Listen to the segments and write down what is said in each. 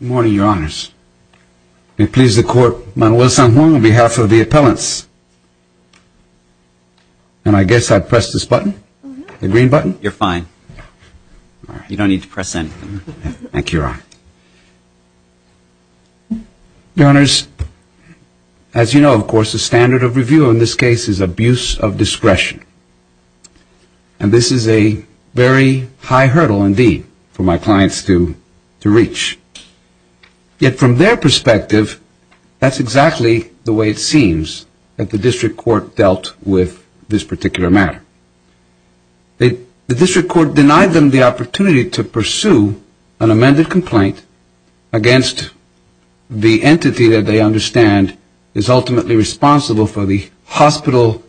Good morning, Your Honors. Your Honors, as you know, of course, the standard of review in this case is abuse of discretion. And this is a very high hurdle, indeed, for my clients to reach. Yet from their perspective, that's exactly the way it seems that the district court dealt with this particular matter. The district court denied them the opportunity to pursue an amended complaint against the entity that they understand is ultimately responsible for the hospital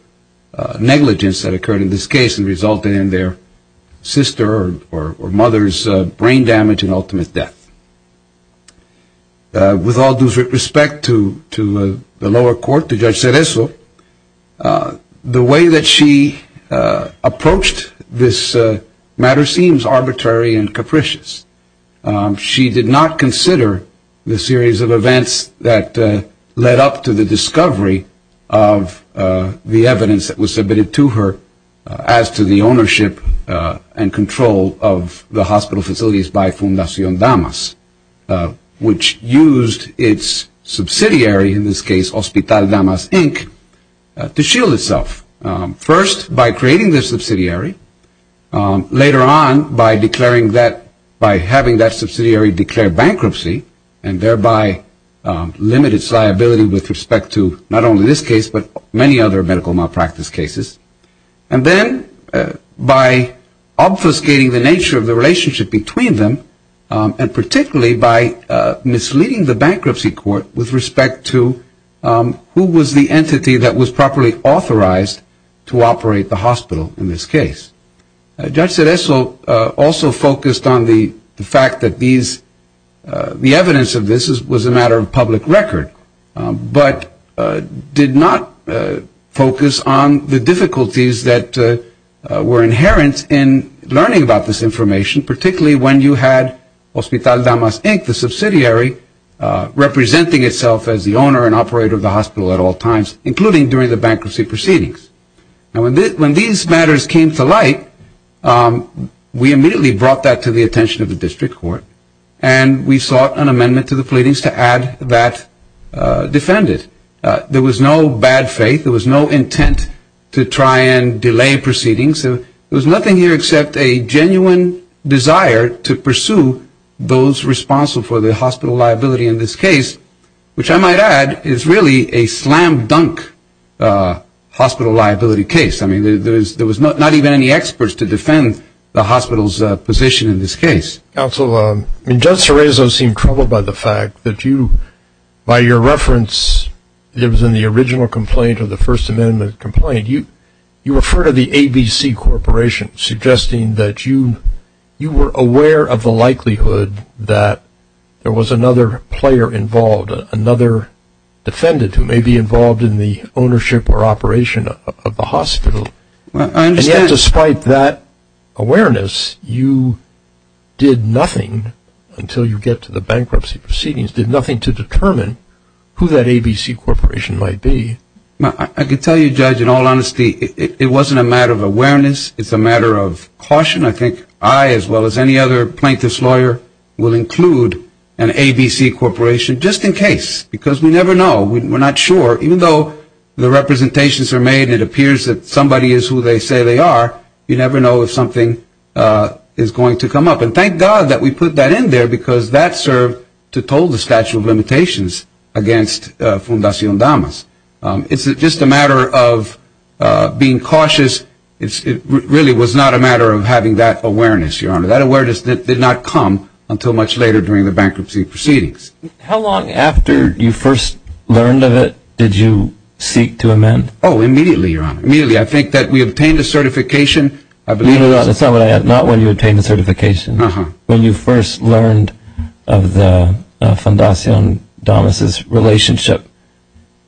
negligence that occurred in this case and resulted in their sister or mother's brain damage and ultimate death. With all due respect to the lower court, to Judge Cereso, the way that she approached this matter seems arbitrary and capricious. She did not consider the series of events that led up to the discovery of the evidence that was submitted to her as to the ownership and control of the hospital facilities by Fundacion Damas, which used its subsidiary, in this case, Hospital Damas, Inc., to shield itself. First, by creating the subsidiary. Later on, by declaring that, by having that subsidiary declare bankruptcy and thereby limit its liability with respect to not only this case but many other medical malpractice cases. And then by obfuscating the nature of the relationship between them and particularly by misleading the bankruptcy court with respect to who was the entity that was properly authorized to operate the hospital in this case. Judge Cereso also focused on the fact that the evidence of this was a matter of public record but did not focus on the difficulties that were inherent in learning about this information, particularly when you had Hospital Damas, Inc., the subsidiary, representing itself as the owner and operator of the hospital at all times, including during the bankruptcy proceedings. Now, when these matters came to light, we immediately brought that to the attention of the district court and we sought an amendment to the pleadings to add that defendant. There was no bad faith. There was no intent to try and delay proceedings. There was nothing here except a genuine desire to pursue those responsible for the hospital liability in this case, which I might add is really a slam dunk hospital liability case. I mean, there was not even any experts to defend the hospital's position in this case. Counsel, Judge Cereso seemed troubled by the fact that you, by your reference, it was in the original complaint of the First Amendment complaint, you referred to the ABC Corporation, suggesting that you were aware of the likelihood that there was another player involved, another defendant who may be involved in the ownership or operation of the hospital. And yet, despite that awareness, you did nothing until you get to the bankruptcy proceedings, did nothing to determine who that ABC Corporation might be. I can tell you, Judge, in all honesty, it wasn't a matter of awareness. It's a matter of caution. I think I, as well as any other plaintiff's lawyer, will include an ABC Corporation just in case, because we never know. We're not sure. Even though the representations are made and it appears that somebody is who they say they are, you never know if something is going to come up. And thank God that we put that in there because that served to toll the statute of limitations against Fundacion Damas. It's just a matter of being cautious. It really was not a matter of having that awareness, Your Honor. That awareness did not come until much later during the bankruptcy proceedings. How long after you first learned of it did you seek to amend? Oh, immediately, Your Honor. Immediately. I think that we obtained a certification. No, that's not what I asked. Not when you obtained the certification. When you first learned of the Fundacion Damas' relationship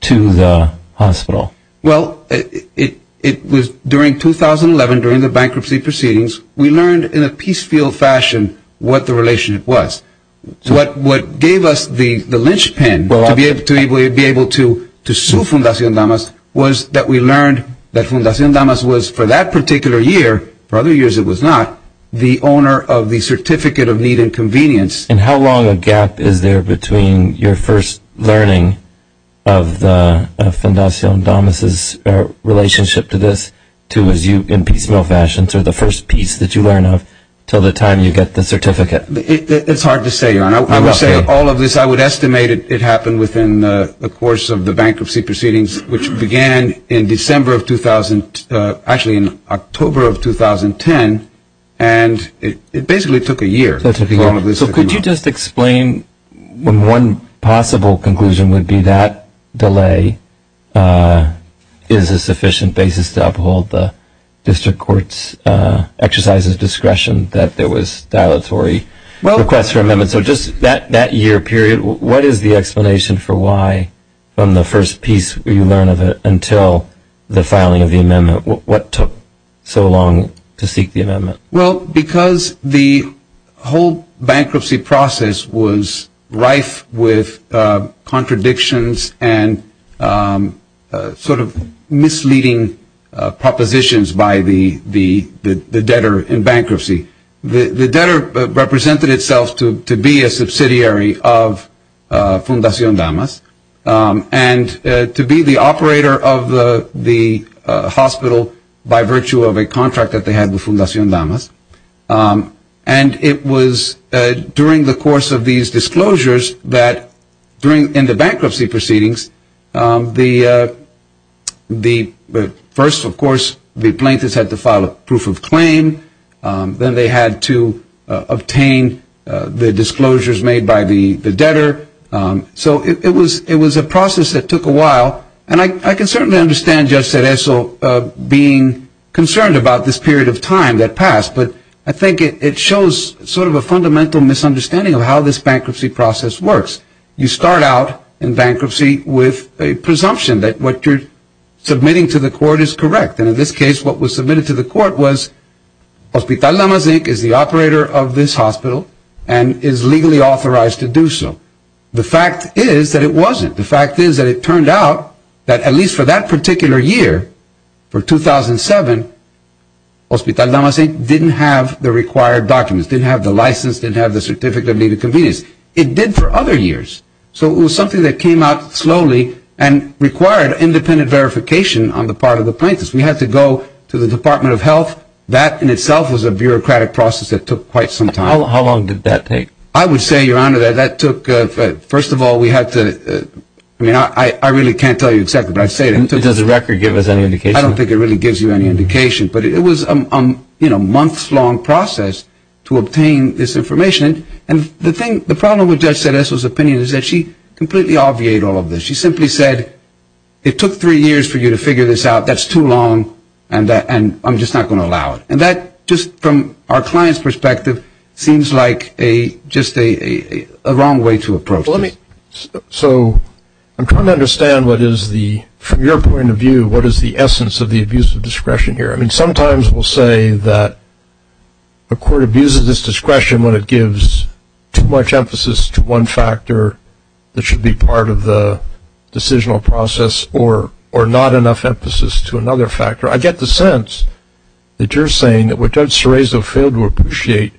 to the hospital. Well, it was during 2011, during the bankruptcy proceedings, we learned in a peace field fashion what the relationship was. What gave us the linchpin to be able to sue Fundacion Damas was that we learned that Fundacion Damas was, for that particular year, for other years it was not, the owner of the Certificate of Need and Convenience. And how long a gap is there between your first learning of the Fundacion Damas' relationship to this to as you, in peace field fashion, to the first piece that you learn of until the time you get the certificate? It's hard to say, Your Honor. I would say all of this, I would estimate it happened within the course of the bankruptcy proceedings, which began in October of 2010, and it basically took a year for all of this to come out. So could you just explain when one possible conclusion would be that delay is a sufficient basis to uphold the district court's exercise of discretion that there was dilatory requests for amendments? And so just that year period, what is the explanation for why, from the first piece you learn of it until the filing of the amendment, what took so long to seek the amendment? Well, because the whole bankruptcy process was rife with contradictions and sort of misleading propositions by the debtor in bankruptcy. The debtor represented itself to be a subsidiary of Fundacion Damas and to be the operator of the hospital by virtue of a contract that they had with Fundacion Damas. And it was during the course of these disclosures that, in the bankruptcy proceedings, the first, of course, the plaintiffs had to file a proof of claim. Then they had to obtain the disclosures made by the debtor. So it was a process that took a while. And I can certainly understand Judge Cereso being concerned about this period of time that passed, but I think it shows sort of a fundamental misunderstanding of how this bankruptcy process works. You start out in bankruptcy with a presumption that what you're submitting to the court is correct. And in this case, what was submitted to the court was Hospital Damas Inc. is the operator of this hospital and is legally authorized to do so. The fact is that it wasn't. The fact is that it turned out that, at least for that particular year, for 2007, Hospital Damas Inc. didn't have the required documents, didn't have the license, didn't have the certificate of needed convenience. It did for other years. So it was something that came out slowly and required independent verification on the part of the plaintiffs. We had to go to the Department of Health. That in itself was a bureaucratic process that took quite some time. How long did that take? I would say, Your Honor, that that took, first of all, we had to, I mean, I really can't tell you exactly, but I'll say it. Does the record give us any indication? I don't think it really gives you any indication. But it was a months-long process to obtain this information. And the thing, the problem with Judge Sedesco's opinion is that she completely obviated all of this. She simply said, it took three years for you to figure this out. That's too long, and I'm just not going to allow it. And that, just from our client's perspective, seems like just a wrong way to approach this. So I'm trying to understand what is the, from your point of view, what is the essence of the abuse of discretion here. I mean, sometimes we'll say that a court abuses this discretion when it gives too much emphasis to one factor that should be part of the decisional process or not enough emphasis to another factor. I get the sense that you're saying that what Judge Cerezo failed to appreciate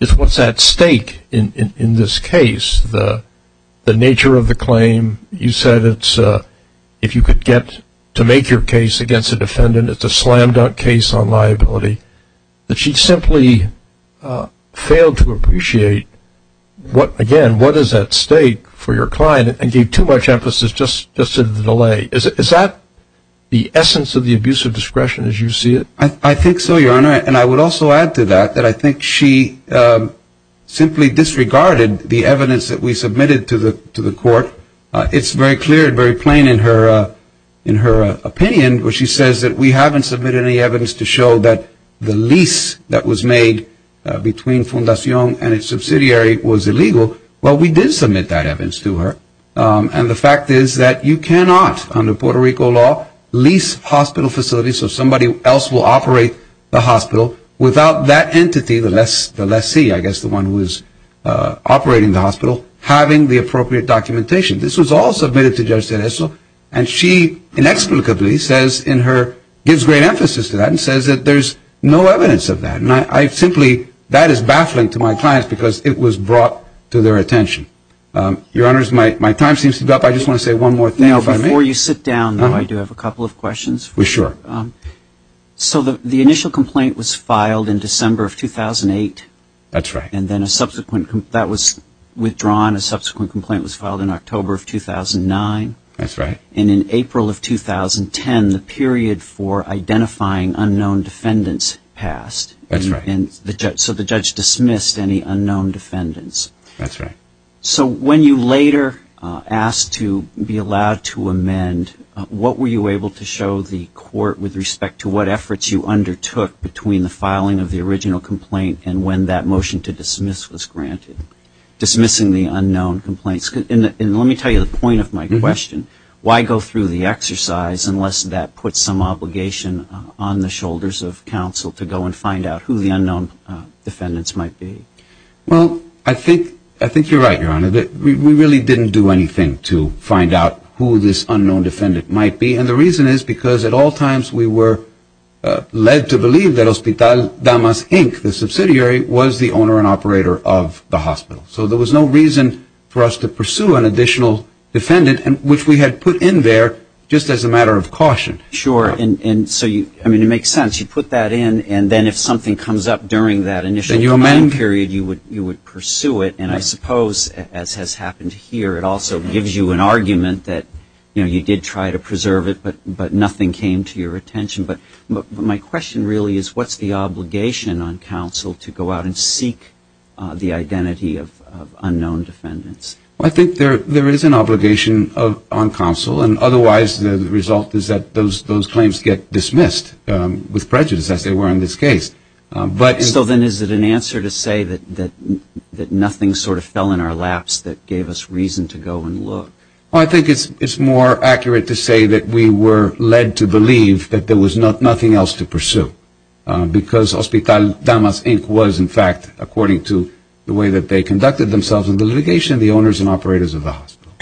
is what's at stake in this case, the nature of the claim. You said it's, if you could get to make your case against a defendant, it's a slam-dunk case on liability, that she simply failed to appreciate what, again, what is at stake for your client and gave too much emphasis just to the delay. Is that the essence of the abuse of discretion as you see it? I think so, Your Honor. And I would also add to that that I think she simply disregarded the evidence that we submitted to the court. It's very clear and very plain in her opinion where she says that we haven't submitted any evidence to show that the lease that was made between Fundacion and its subsidiary was illegal. Well, we did submit that evidence to her. And the fact is that you cannot, under Puerto Rico law, lease hospital facilities so somebody else will operate the hospital without that entity, the lessee, I guess the one who is operating the hospital, having the appropriate documentation. This was all submitted to Judge Cereso. And she inexplicably says in her, gives great emphasis to that and says that there's no evidence of that. And I simply, that is baffling to my clients because it was brought to their attention. Your Honors, my time seems to be up. I just want to say one more thing if I may. Before you sit down, though, I do have a couple of questions. Sure. So the initial complaint was filed in December of 2008. That's right. And then a subsequent, that was withdrawn. A subsequent complaint was filed in October of 2009. That's right. And in April of 2010, the period for identifying unknown defendants passed. That's right. So the judge dismissed any unknown defendants. That's right. So when you later asked to be allowed to amend, what were you able to show the court with respect to what efforts you undertook between the filing of the original complaint and when that motion to dismiss was granted, dismissing the unknown complaints? And let me tell you the point of my question. Why go through the exercise unless that puts some obligation on the shoulders of counsel to go and find out who the unknown defendants might be? Well, I think you're right, Your Honor. We really didn't do anything to find out who this unknown defendant might be. And the reason is because at all times we were led to believe that Hospital Damas, Inc., the subsidiary, was the owner and operator of the hospital. So there was no reason for us to pursue an additional defendant, which we had put in there just as a matter of caution. Sure. And so, I mean, it makes sense. You put that in, and then if something comes up during that initial period, you would pursue it. And I suppose, as has happened here, it also gives you an argument that, you know, you did try to preserve it, but nothing came to your attention. But my question really is what's the obligation on counsel to go out and seek the identity of unknown defendants? Well, I think there is an obligation on counsel, and otherwise the result is that those claims get dismissed with prejudice, as they were in this case. So then is it an answer to say that nothing sort of fell in our laps that gave us reason to go and look? Well, I think it's more accurate to say that we were led to believe that there was nothing else to pursue, because Hospital Damas, Inc. was, in fact, according to the way that they conducted themselves in the litigation, the owners and operators of the hospital.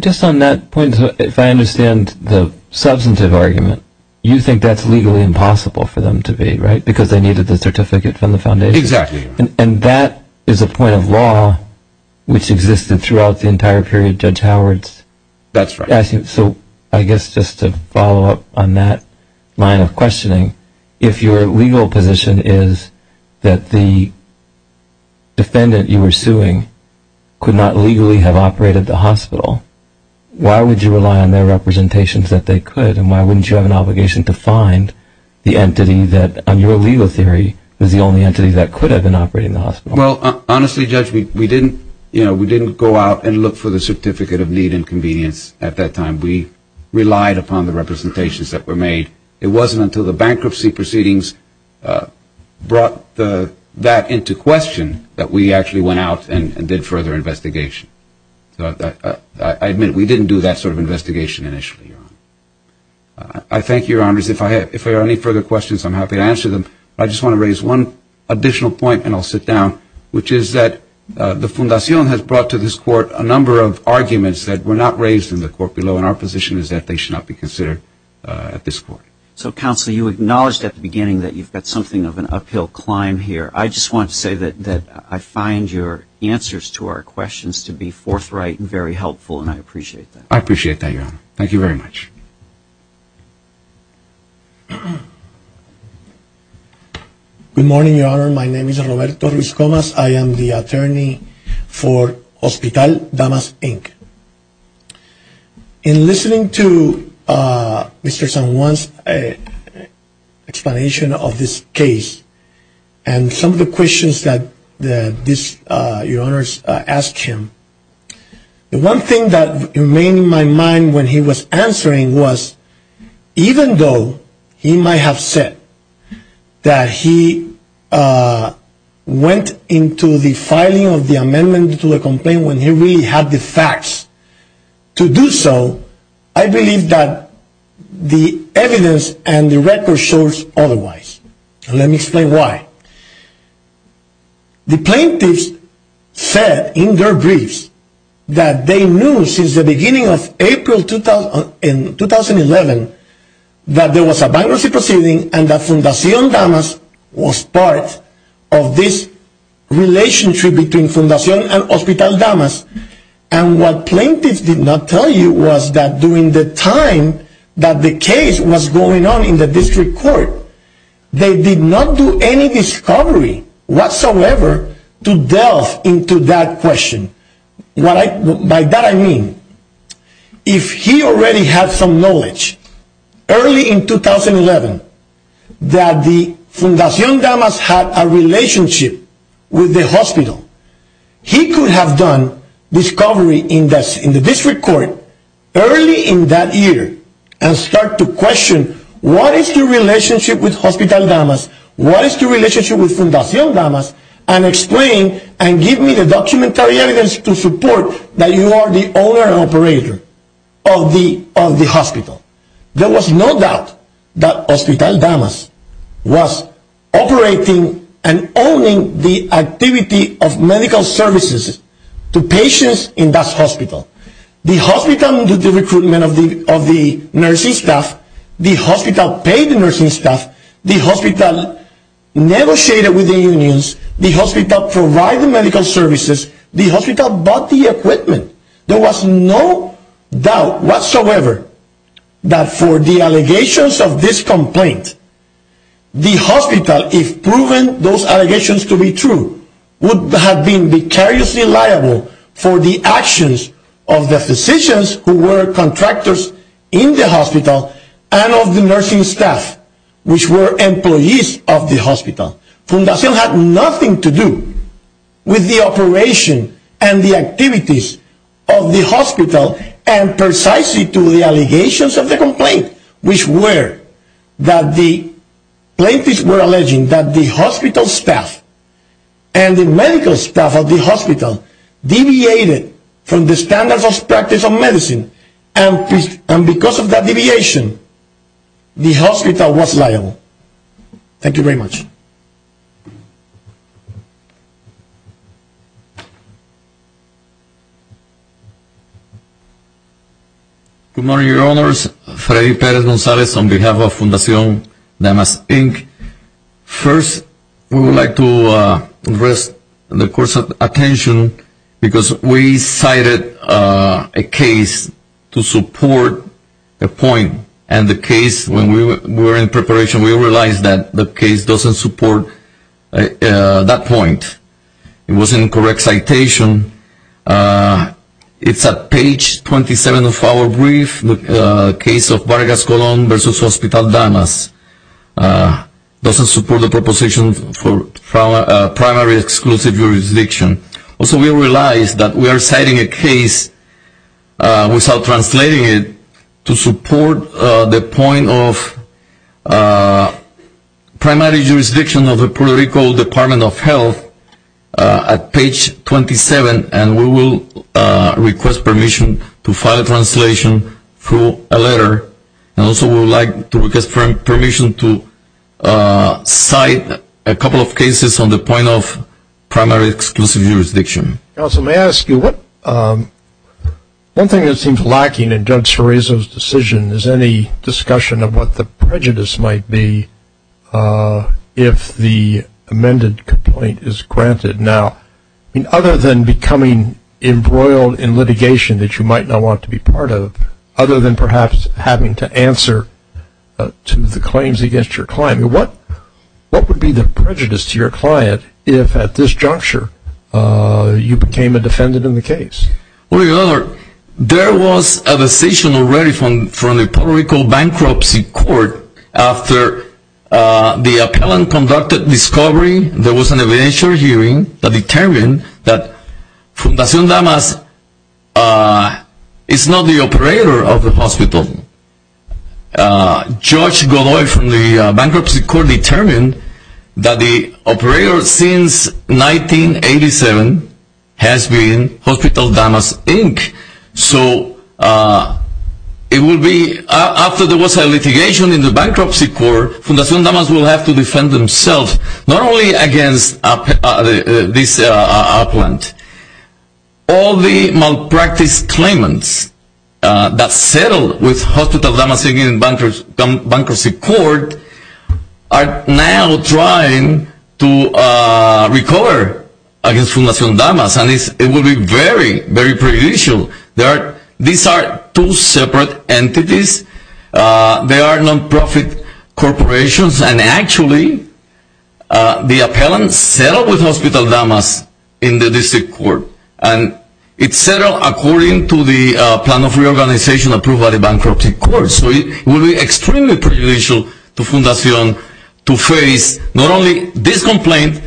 Just on that point, if I understand the substantive argument, you think that's legally impossible for them to be, right? Because they needed the certificate from the foundation. Exactly. And that is a point of law which existed throughout the entire period, Judge Howard's. That's right. So I guess just to follow up on that line of questioning, if your legal position is that the defendant you were suing could not legally have operated the hospital, why would you rely on their representations that they could, and why wouldn't you have an obligation to find the entity that, on your legal theory, was the only entity that could have been operating the hospital? Well, honestly, Judge, we didn't go out and look for the certificate of need and convenience at that time. We relied upon the representations that were made. It wasn't until the bankruptcy proceedings brought that into question that we actually went out and did further investigation. I admit we didn't do that sort of investigation initially, Your Honor. I thank you, Your Honors. If there are any further questions, I'm happy to answer them. I just want to raise one additional point, and I'll sit down, which is that the Fundacion has brought to this court a number of arguments that were not raised in the court below, and our position is that they should not be considered at this court. So, Counselor, you acknowledged at the beginning that you've got something of an uphill climb here. I just want to say that I find your answers to our questions to be forthright and very helpful, and I appreciate that. I appreciate that, Your Honor. Thank you very much. Good morning, Your Honor. My name is Roberto Ruiz Gomez. I am the attorney for Hospital Damas, Inc. In listening to Mr. San Juan's explanation of this case and some of the questions that Your Honors asked him, the one thing that remained in my mind when he was answering was, even though he might have said that he went into the filing of the amendment to the complaint when he really had the facts to do so, I believe that the evidence and the record shows otherwise. Let me explain why. The plaintiffs said in their briefs that they knew since the beginning of April 2011 that there was a bankruptcy proceeding and that Fundación Damas was part of this relationship between Fundación and Hospital Damas. And what plaintiffs did not tell you was that during the time that the case was going on in the district court, they did not do any discovery whatsoever to delve into that question. By that I mean, if he already had some knowledge early in 2011 that Fundación Damas had a relationship with the hospital, he could have done discovery in the district court early in that year and start to question what is the relationship with Hospital Damas, what is the relationship with Fundación Damas, and explain and give me the documentary evidence to support that you are the owner and operator of the hospital. There was no doubt that Hospital Damas was operating and owning the activity of medical services to patients in that hospital. The hospital did the recruitment of the nursing staff, the hospital paid the nursing staff, the hospital negotiated with the unions, the hospital provided the medical services, the hospital bought the equipment. There was no doubt whatsoever that for the allegations of this complaint, the hospital, if proven those allegations to be true, would have been vicariously liable for the actions of the physicians who were contractors in the hospital and of the nursing staff, which were employees of the hospital. Fundación had nothing to do with the operation and the activities of the hospital and precisely to the allegations of the complaint, which were that the plaintiffs were alleging that the hospital staff and the medical staff of the hospital deviated from the standards of practice of medicine and because of that deviation, the hospital was liable. Thank you very much. Good morning, your honors. Freddy Perez-Gonzalez on behalf of Fundación Damas Inc. First, we would like to rest the course of attention because we cited a case to support a point and the case, when we were in preparation, we realized that the case doesn't support that point. It wasn't a correct citation. It's at page 27 of our brief, the case of Vargas Colon versus Hospital Damas. It doesn't support the proposition for primary exclusive jurisdiction. Also, we realized that we are citing a case without translating it to support the point of primary jurisdiction of the Puerto Rico Department of Health at page 27 and we will request permission to file a translation through a letter. And also, we would like to request permission to cite a couple of cases on the point of primary exclusive jurisdiction. Counsel, may I ask you, one thing that seems lacking in Judge Cerezo's decision is any discussion of what the prejudice might be if the amended complaint is granted. Now, other than becoming embroiled in litigation that you might not want to be part of, other than perhaps having to answer to the claims against your client, what would be the prejudice to your client if at this juncture you became a defendant in the case? Well, your honor, there was a decision already from the Puerto Rico Bankruptcy Court. After the appellant conducted discovery, there was an evidentiary hearing that determined that Fundacion Damas is not the operator of the hospital. Judge Godoy from the Bankruptcy Court determined that the operator since 1987 has been Hospital Damas, Inc. So, after there was a litigation in the Bankruptcy Court, Fundacion Damas will have to defend themselves not only against this appellant. All the malpractice claimants that settled with Hospital Damas, Inc. in Bankruptcy Court are now trying to recover against Fundacion Damas. And it will be very, very prejudicial. These are two separate entities. They are non-profit corporations. And actually, the appellant settled with Hospital Damas in the District Court. And it settled according to the plan of reorganization approved by the Bankruptcy Court. So, it will be extremely prejudicial to Fundacion Damas to face not only this complaint,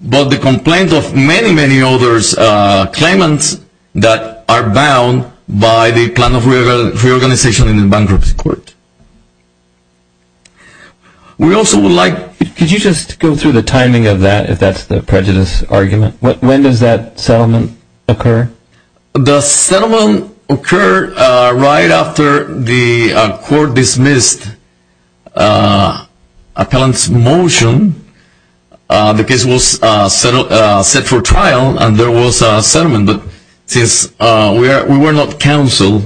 but the complaint of many, many other claimants that are bound by the plan of reorganization in the Bankruptcy Court. Could you just go through the timing of that, if that's the prejudice argument? When does that settlement occur? The settlement occurred right after the court dismissed the appellant's motion. The case was set for trial and there was a settlement. But since we were not counsel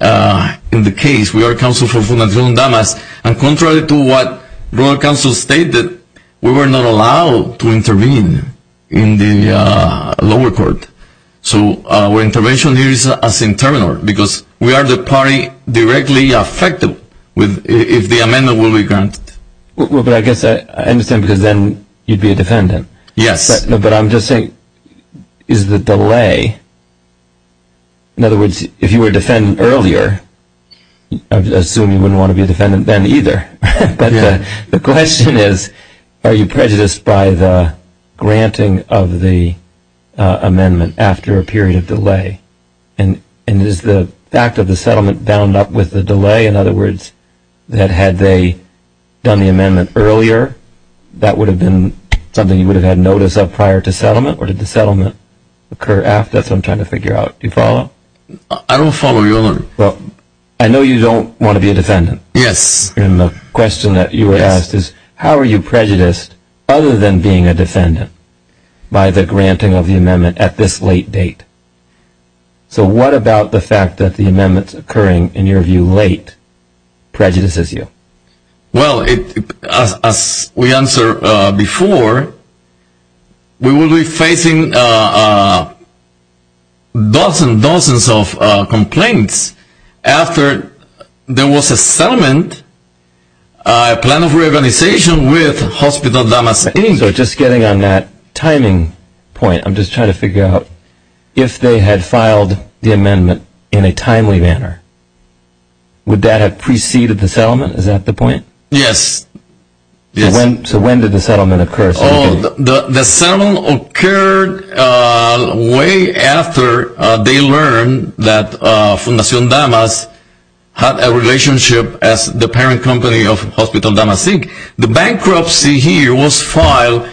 in the case, we are counsel for Fundacion Damas, and contrary to what Rural Council stated, we were not allowed to intervene in the lower court. So, our intervention here is as internal, because we are the party directly affected if the amendment will be granted. I understand because then you'd be a defendant. Yes. But I'm just saying, is the delay, in other words, if you were a defendant earlier, I assume you wouldn't want to be a defendant then either. But the question is, are you prejudiced by the granting of the amendment after a period of delay? And is the fact of the settlement bound up with the delay, in other words, that had they done the amendment earlier, that would have been something you would have had notice of prior to settlement? Or did the settlement occur after? That's what I'm trying to figure out. Do you follow? I don't follow your... Well, I know you don't want to be a defendant. Yes. And the question that you were asked is, how are you prejudiced, other than being a defendant, by the granting of the amendment at this late date? So, what about the fact that the amendments occurring, in your view, late prejudices you? Well, as we answered before, we will be facing dozens and dozens of complaints after there was a settlement, a plan of reorganization with Hospital Damascus. So, just getting on that timing point, I'm just trying to figure out, if they had filed the amendment in a timely manner, would that have preceded the settlement? Is that the point? Yes. So, when did the settlement occur? The settlement occurred way after they learned that Fundacion Damas had a relationship as the parent company of Hospital Damasic. The bankruptcy here was filed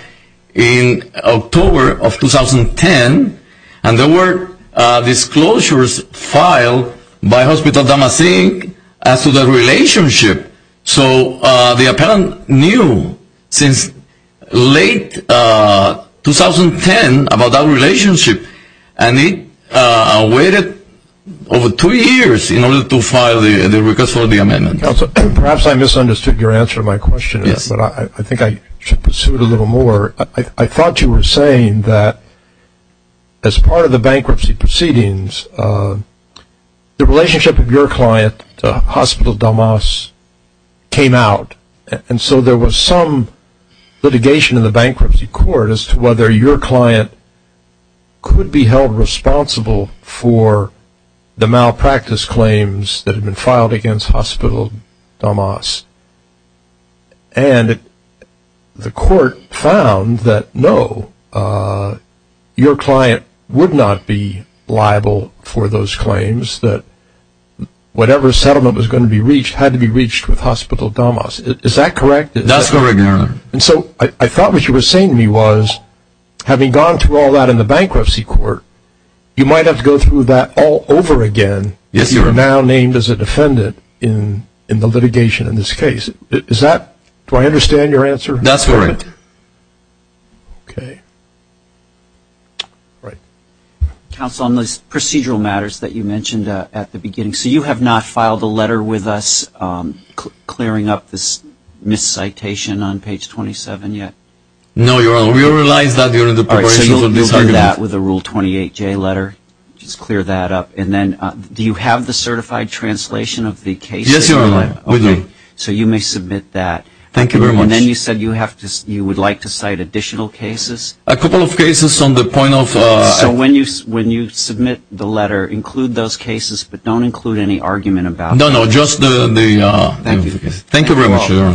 in October of 2010, and there were disclosures filed by Hospital Damasic as to the relationship. So, the appellant knew since late 2010 about that relationship, and he waited over two years in order to file the request for the amendment. Counselor, perhaps I misunderstood your answer to my question, but I think I should pursue it a little more. I thought you were saying that, as part of the bankruptcy proceedings, the relationship of your client to Hospital Damas came out, and so there was some litigation in the bankruptcy court as to whether your client could be held responsible for the malpractice claims that had been filed against Hospital Damas. And the court found that, no, your client would not be liable for those claims, that whatever settlement was going to be reached had to be reached with Hospital Damas. Is that correct? And so I thought what you were saying to me was, having gone through all that in the bankruptcy court, you might have to go through that all over again. Yes, Your Honor. You are now named as a defendant in the litigation in this case. Is that – do I understand your answer? That's correct. Okay. Counsel, on those procedural matters that you mentioned at the beginning, so you have not filed a letter with us clearing up this miscitation on page 27 yet? No, Your Honor. We realize that you're in the preparation for this argument. All right, so you'll do that with a Rule 28J letter? Just clear that up. And then do you have the certified translation of the case? Yes, Your Honor. Okay. So you may submit that. Thank you very much. And then you said you would like to cite additional cases? A couple of cases on the point of – So when you submit the letter, include those cases but don't include any argument about them? No, no, just the – Thank you. Thank you very much, Your Honor. Thank you all.